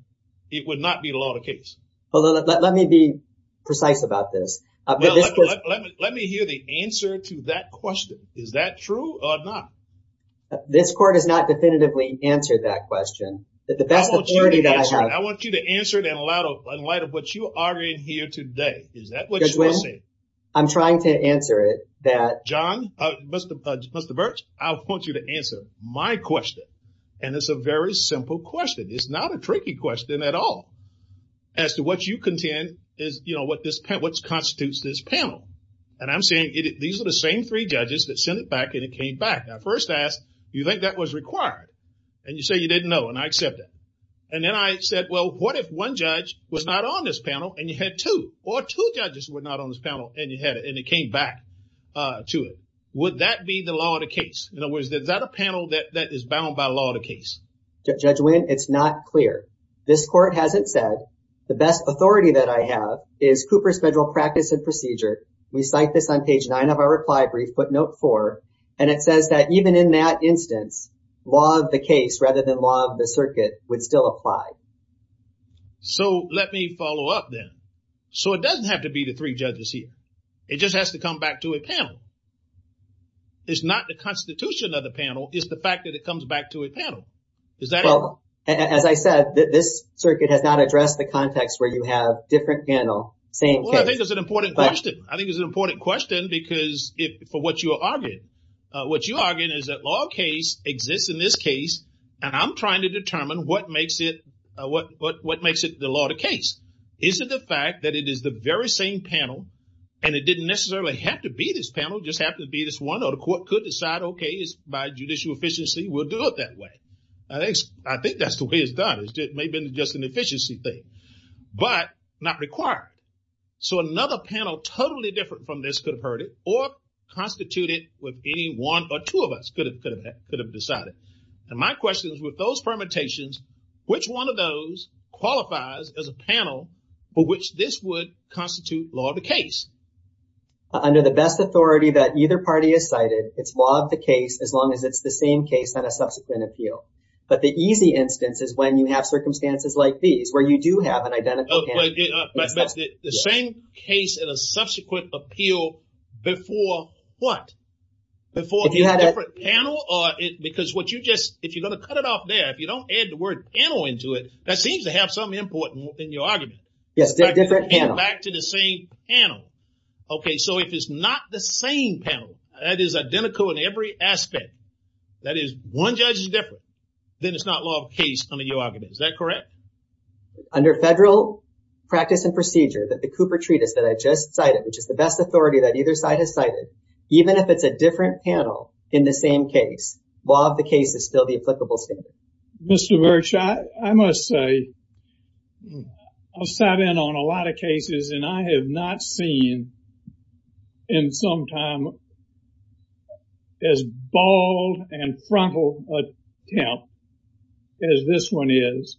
it would not be the law of the case. Well, let me be precise about this. Let me hear the answer to that question. Is that true or not? This court has not definitively answered that question. The best authority that I have- I want you to answer it in light of what you are in here today. Is that what you are saying? I'm trying to answer it that- John, Mr. Birch, I want you to answer my question. And it's a very simple question. It's not a tricky question at all as to what you contend is what constitutes this panel. And I'm saying these are the same three judges that sent it back and it came back. I first asked, do you think that was required? And you say you didn't know and I accept that. And then I said, well, what if one judge was not on this panel and you had two or two judges were not on this panel and it came back to it? Would that be the law of the case? In other words, is that a panel that is bound by law of the case? Judge Wynn, it's not clear. This court hasn't said the best authority that I have is Cooper's Federal Practice and Procedure. We cite this on page nine of our reply brief, but note four, and it says that even in that instance, law of the case rather than law of the circuit would still apply. So let me follow up then. So it doesn't have to be the three judges here. It just has to come back to a panel. It's not the constitution of the panel, it's the fact that it comes back to a panel. Is that? Well, as I said, this circuit has not addressed the context where you have different panel saying. Well, I think it's an important question. I think it's an important question because if for what you are arguing, what you are arguing is that law of case exists in this case, and I'm trying to determine what panel, and it didn't necessarily have to be this panel, it just happened to be this one, or the court could decide, okay, by judicial efficiency, we'll do it that way. I think that's the way it's done. It may have been just an efficiency thing, but not required. So another panel totally different from this could have heard it or constituted with any one or two of us could have decided. And my question is with those permutations, which one of those qualifies as panel for which this would constitute law of the case? Under the best authority that either party has cited, it's law of the case as long as it's the same case that a subsequent appeal. But the easy instance is when you have circumstances like these, where you do have an identical panel. But the same case in a subsequent appeal before what? Before if you had a panel or because what you just, if you're going to cut it off there, if you don't add the word panel into that seems to have something important in your argument. Yes, different panel. Back to the same panel. Okay, so if it's not the same panel that is identical in every aspect, that is one judge is different, then it's not law of case under your argument. Is that correct? Under federal practice and procedure that the Cooper Treatise that I just cited, which is the best authority that either side has cited, even if it's a different panel in the same case, law of the case. I'll just say, I've sat in on a lot of cases and I have not seen in some time as bald and frontal attempt as this one is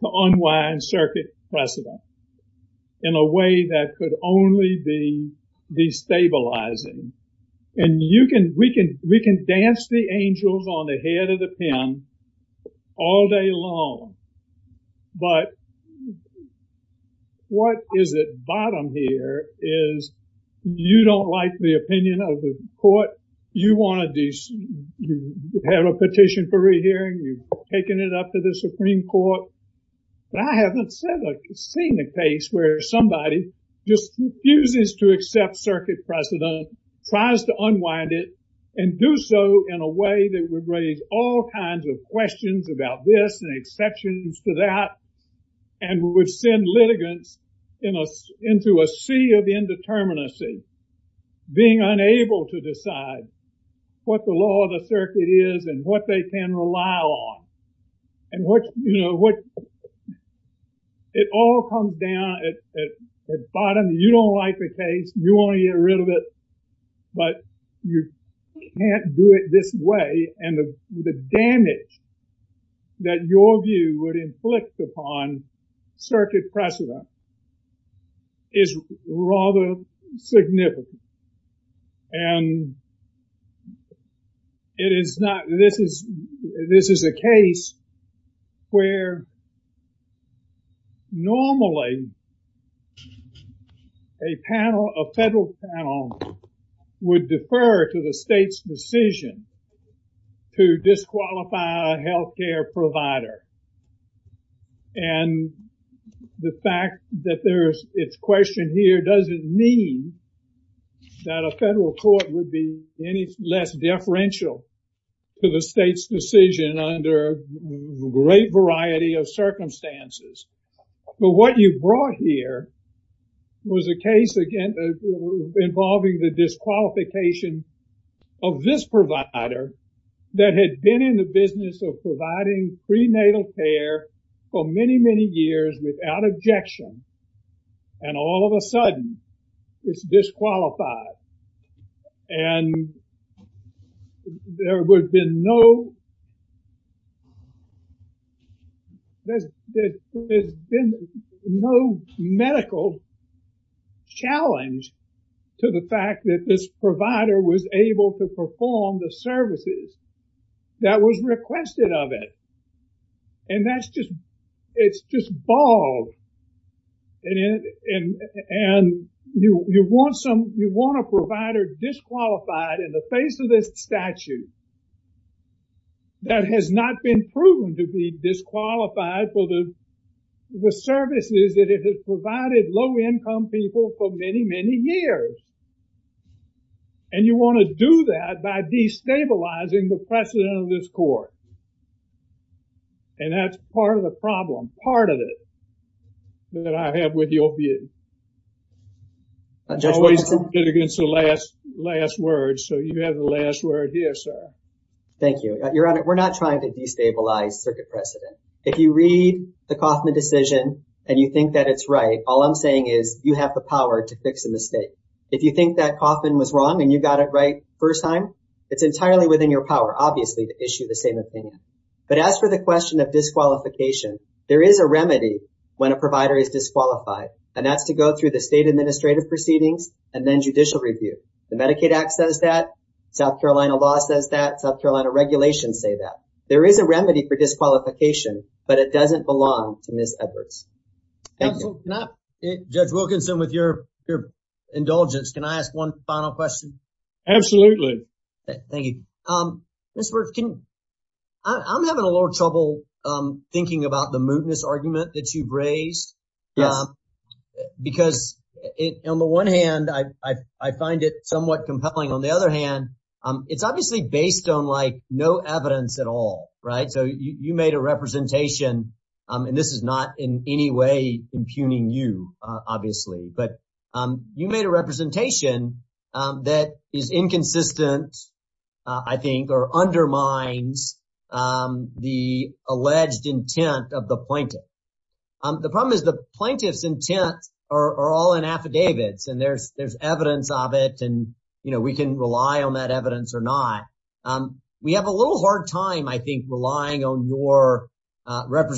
to unwind circuit precedent in a way that could only be destabilizing. And you can, we can, we can dance the angels on the head of the pen all day long. But what is at bottom here is you don't like the opinion of the court. You want to have a petition for rehearing, you've taken it up to the Supreme Court. But I haven't seen a case where somebody just refuses to accept circuit precedent, tries to unwind it and do so in a way that would raise all kinds of questions about this and exceptions to that, and would send litigants into a sea of indeterminacy, being unable to decide what the law of the circuit is and what they can rely on. And what, you know, what, it all comes down at the bottom. You don't like the case, you want to get rid of it, but you can't do it this way. And the damage that your view would inflict upon circuit precedent is rather significant. And it is not, this is, a case where normally a panel, a federal panel would defer to the state's decision to disqualify a health care provider. And the fact that there's, it's questioned here, does it mean that a federal court would be any less deferential to the state's decision under great variety of circumstances? But what you brought here was a case again involving the disqualification of this provider that had been in the business of providing prenatal care for disqualified. And there would have been no, there's been no medical challenge to the fact that this provider was able to perform the services that was requested of it. And that's just, it's just bald. And you want some, you want a provider disqualified in the face of this statute that has not been proven to be disqualified for the services that it has provided low-income people for many, many years. And you want to do that by destabilizing the precedent of this court. And that's part of the problem, part of it, that I have with the OPA. Always good against the last, last word. So you have the last word here, sir. Thank you. Your Honor, we're not trying to destabilize circuit precedent. If you read the Kauffman decision and you think that it's right, all I'm saying is you have the power to fix a mistake. If you think that Kauffman was wrong and you got it right first time, it's entirely within your power, obviously, to issue the same opinion. But as for the question of disqualification, there is a remedy when a provider is disqualified, and that's to go through the state administrative proceedings and then judicial review. The Medicaid Act says that, South Carolina law says that, South Carolina regulations say that. There is a remedy for disqualification, but it doesn't belong to Ms. Edwards. Judge Wilkinson, with your indulgence, can I ask one final question? Absolutely. Thank you. Ms. Wirth, I'm having a little trouble thinking about the mootness argument that you've raised. Because on the one hand, I find it somewhat compelling. On the other hand, it's obviously based on no evidence at all, right? So you made a representation, and this is not in any way impugning you, obviously. But you made a representation that is inconsistent, I think, or undermines the alleged intent of the plaintiff. The problem is the plaintiff's intent are all in affidavits, and there's evidence of it, and we can rely on that evidence or not. We have a little hard time, I think, relying on your take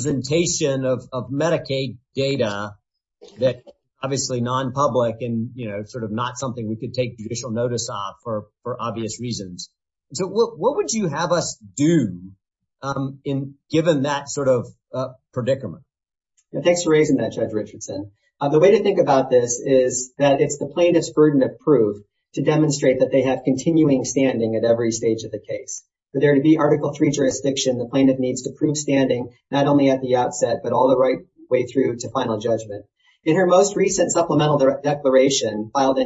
judicial notice off for obvious reasons. So what would you have us do, given that sort of predicament? Thanks for raising that, Judge Richardson. The way to think about this is that it's the plaintiff's burden of proof to demonstrate that they have continuing standing at every stage of the case. For there to be Article III jurisdiction, the plaintiff needs to prove standing, not only at the outset, but all the way through to final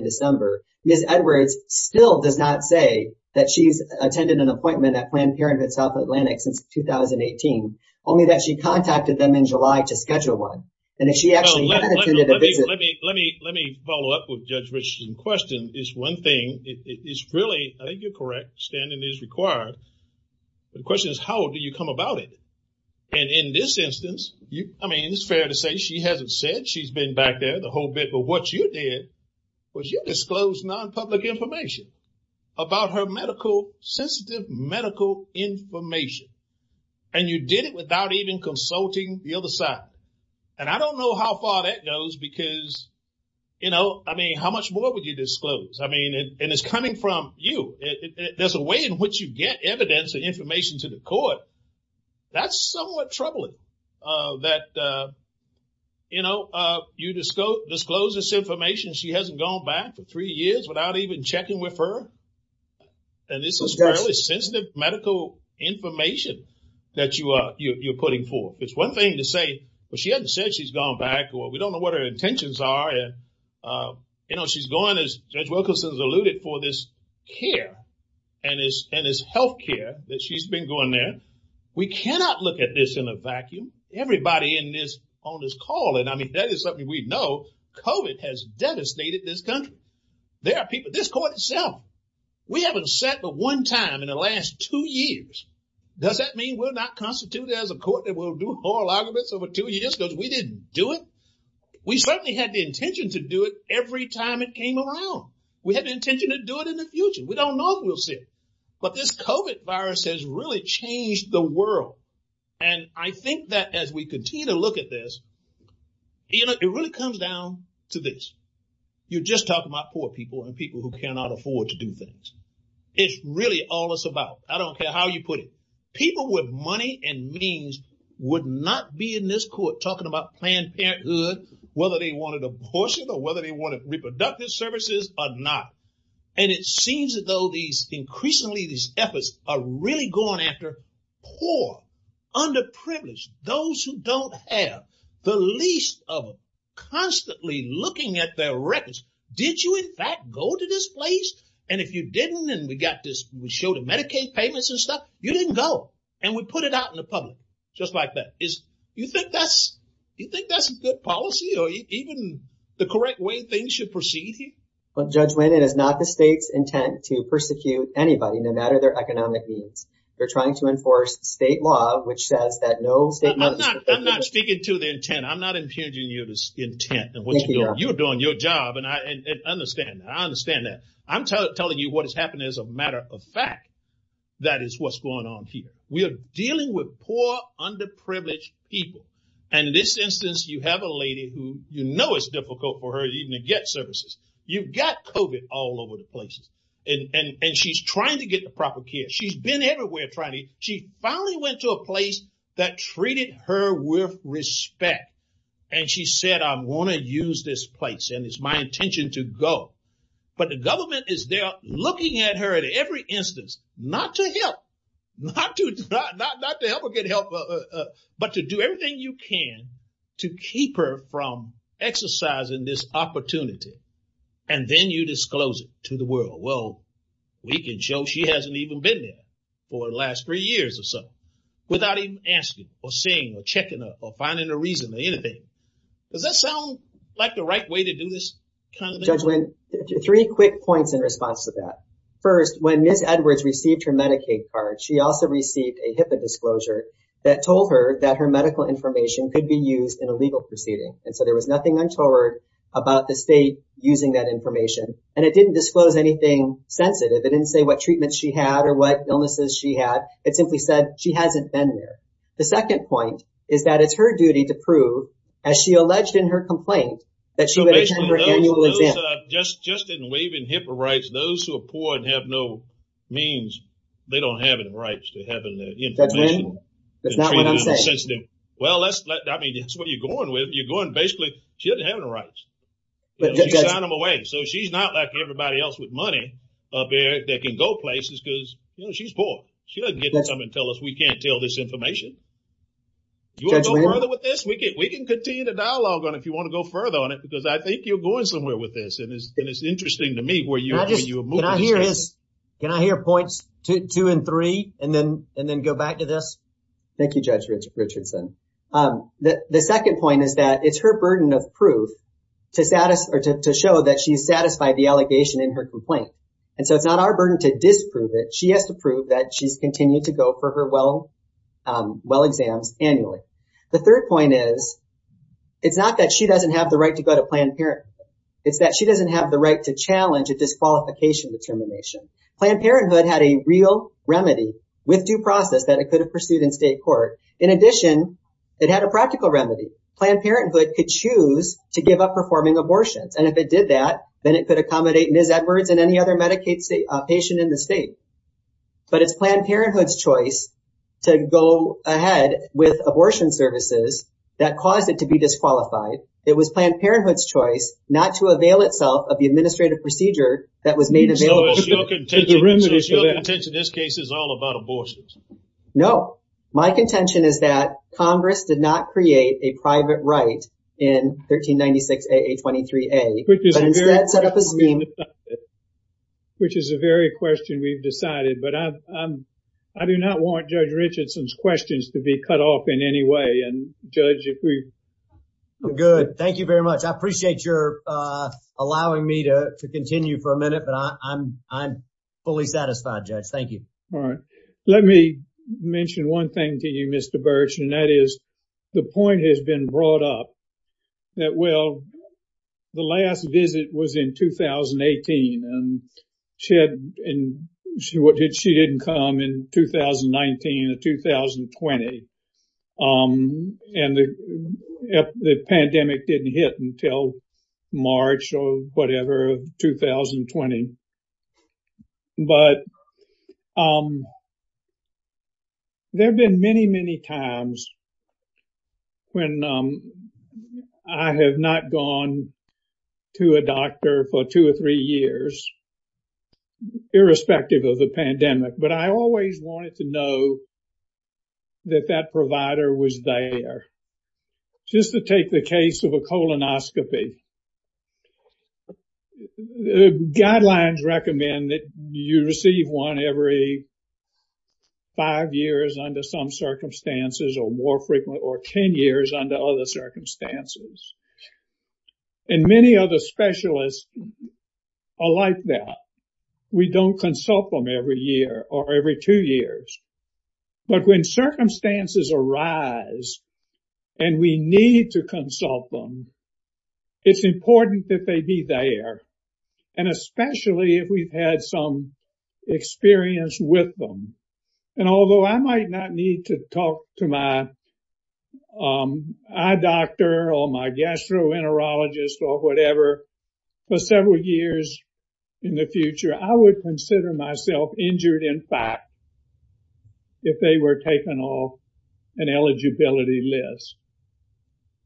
December. Ms. Edwards still does not say that she's attended an appointment at Planned Parenthood South Atlantic since 2018, only that she contacted them in July to schedule one. And if she actually had attended a visit... Let me follow up with Judge Richardson's question. It's one thing. It's really, I think you're correct, standing is required. The question is, how do you come about it? And in this instance, I mean, it's fair to say she hasn't said she's been back there the whole bit, but what you did was you disclosed non-public information about her medical, sensitive medical information. And you did it without even consulting the other side. And I don't know how far that goes because, I mean, how much more would you disclose? I mean, and it's coming from you. There's a way in which you get evidence and you disclose this information. She hasn't gone back for three years without even checking with her. And this is fairly sensitive medical information that you're putting forth. It's one thing to say, well, she hasn't said she's gone back, or we don't know what her intentions are. And she's going, as Judge Wilkinson has alluded, for this care and this healthcare that she's been going there. We cannot look at this in a vacuum. Everybody on this call and I mean, that is something we know, COVID has devastated this country. There are people, this court itself, we haven't sat for one time in the last two years. Does that mean we're not constituted as a court that will do oral arguments over two years because we didn't do it? We certainly had the intention to do it every time it came around. We had the intention to do it in the future. We don't know if we'll sit. But this COVID virus has really changed the world. And I think that as we continue to look at this, it really comes down to this. You're just talking about poor people and people who cannot afford to do things. It's really all it's about. I don't care how you put it. People with money and means would not be in this court talking about Planned Parenthood, whether they wanted abortion or whether they wanted reproductive services or not. And it seems as though these increasingly these efforts are really going after poor, underprivileged, those who don't have the least of them, constantly looking at their records. Did you in fact go to this place? And if you didn't, and we got this, we showed the Medicaid payments and stuff, you didn't go. And we put it out in the public, just like that. Is you think that's a good policy or even the correct way things should proceed here? Well, Judge Wynne, it is not the state's intent to persecute anybody, no matter their economic needs. They're trying to enforce state law, which says that no state- I'm not speaking to the intent. I'm not impugning your intent and what you're doing. You're doing your job. And I understand that. I'm telling you what has happened as a matter of fact, that is what's going on here. We are dealing with poor, underprivileged people. And in this COVID all over the place. And she's trying to get the proper care. She's been everywhere trying to, she finally went to a place that treated her with respect. And she said, I'm going to use this place and it's my intention to go. But the government is there looking at her at every instance, not to help, not to help her get help, but to do everything you can to keep her from exercising this opportunity. And then you disclose it to the world. Well, we can show she hasn't even been there for the last three years or so without even asking or seeing or checking or finding a reason or anything. Does that sound like the right way to do this kind of thing? Judge Wynne, three quick points in response to that. First, when Ms. Edwards received her Medicaid card, she also received a HIPAA disclosure that told her that her medical information could be used in a legal proceeding. And so there was nothing untoward about the state using that information. And it didn't disclose anything sensitive. It didn't say what treatments she had or what illnesses she had. It simply said she hasn't been there. The second point is that it's her duty to prove, as she alleged in her complaint, that she would attend her annual exam. Just in waiving HIPAA rights, those who are poor and have no means, they don't have any rights to information. Judge Wynne, that's not what I'm saying. Well, I mean, that's what you're going with. You're going, basically, she doesn't have any rights. She signed them away. So she's not like everybody else with money up there that can go places because, you know, she's poor. She doesn't get to come and tell us we can't tell this information. You want to go further with this? We can continue the dialogue on it if you want to go further on it because I think you're going somewhere with this. And it's interesting to me where you are when you are moving this case. Can I hear points two and three and then go back to this? Thank you, Judge Richardson. The second point is that it's her burden of proof to show that she's satisfied the allegation in her complaint. And so it's not our burden to disprove it. She has to prove that she's continued to go for her well exams annually. The third point is, it's not that she doesn't have the right to go to Planned Parenthood. It's that she doesn't have the right to challenge a disqualification determination. Planned Parenthood had a real remedy, with due process, that it could have pursued in state court. In addition, it had a practical remedy. Planned Parenthood could choose to give up performing abortions. And if it did that, then it could accommodate Ms. Edwards and any other Medicaid patient in the state. But it's Planned Parenthood's choice to go ahead with abortion services that caused it to be disqualified. It was Planned Parenthood's choice not to avail itself of the administrative procedure that was made available. So your contention in this case is all about abortions? No. My contention is that Congress did not create a private right in 1396 AA23A, but instead set up a scheme. Which is a very question we've decided. But I do not want Judge Richardson's questions to be cut off in any way. Good. Thank you very much. I appreciate your allowing me to continue for a minute, but I'm fully satisfied, Judge. Thank you. All right. Let me mention one thing to you, Mr. Birch, and that is, the point has been brought up that, well, the last visit was in 2018. And she didn't come in 2019 or 2020. And the pandemic didn't hit until March or whatever of 2020. But there have been many, many times when I have not gone to a doctor for two or three years, irrespective of the pandemic. But I always wanted to know that that provider was there. Just to take the case of a colonoscopy. Guidelines recommend that you receive one every five years under some circumstances, or more frequent, or 10 years under other circumstances. And many other specialists are like that. We don't consult them every year or every two years. But when circumstances arise, and we need to consult them, it's important that they be there. And especially if we've had some experience with them. And although I might not need to talk to my eye doctor or my gastroenterologist or whatever for several years in the future, I would consider myself injured in fact, if they were taken off an eligibility list.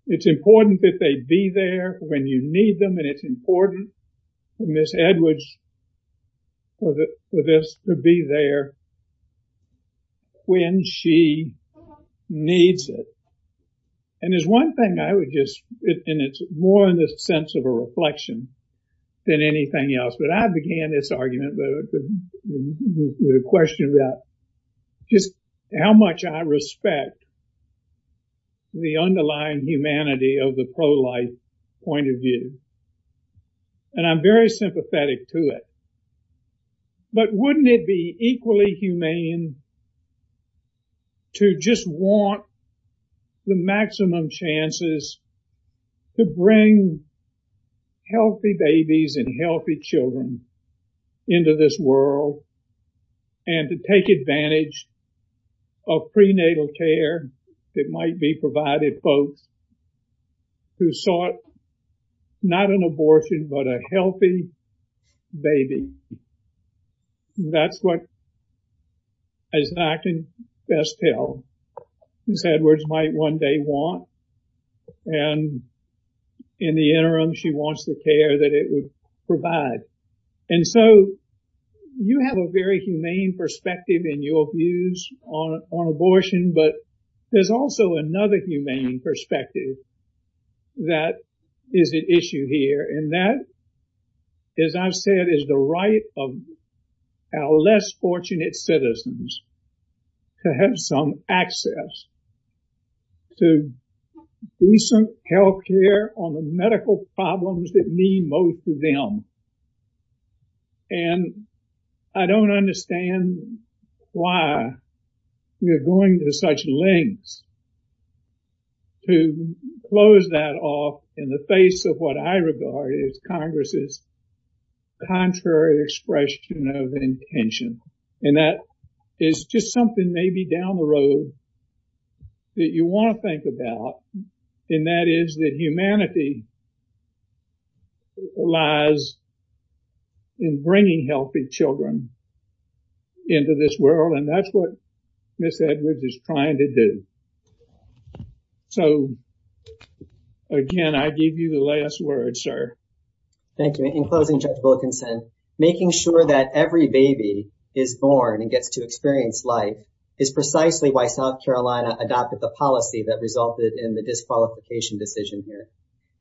It's important that they be there when you need them. And it's important for Ms. Edwards, for this to be there when she needs it. And there's one thing I would just, and it's more in the sense of a reflection than anything else. But I began this question about just how much I respect the underlying humanity of the pro-life point of view. And I'm very sympathetic to it. But wouldn't it be equally humane to just want the maximum chances to bring healthy babies and healthy children into this world and to take advantage of prenatal care that might be provided for folks who sought not an abortion, but a healthy baby. That's what, as I can best tell, Ms. Edwards might one day want. And in the interim, she wants the care that it would provide. And so, you have a very humane perspective in your views on abortion, but there's also another humane perspective that is at issue here. And that, as I've said, is the right of our less fortunate citizens to have some access to decent health care on the medical problems that mean most to them. And I don't understand why we're going to such lengths to close that off in the face of what I regard as Congress's contrary expression of intention. And that is just something maybe down the road that you want to think about. And that is that humanity lies in bringing healthy children into this world. And that's what Ms. Edwards is trying to do. So, again, I give you the last word, sir. Thank you. In closing, Judge Wilkinson, making sure that every baby is born and gets to experience life is precisely why South Carolina adopted the policy that resulted in the disqualification decision here.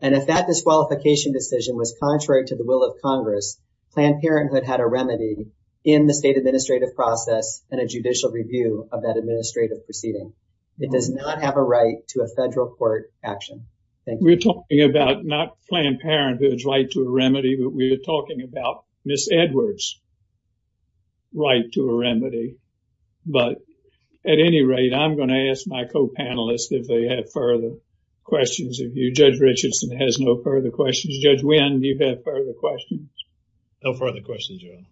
And if that disqualification decision was contrary to the will of Congress, Planned Parenthood had a remedy in the state administrative process and a judicial review of that administrative proceeding. It does not have a right to a federal court action. Thank you. We're talking about not Planned Parenthood's right to a remedy, but we're talking about Ms. Edwards' right to a remedy. But at any rate, I'm going to ask my co-panelists if they have further questions of you. Judge Richardson has no further questions. Judge Wynn, do you have further questions? No further questions, Your Honor.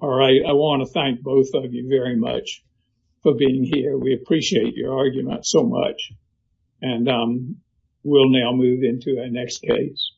All right. I want to thank both of you very much for being here. We appreciate your argument so much. And we'll now move into our next case.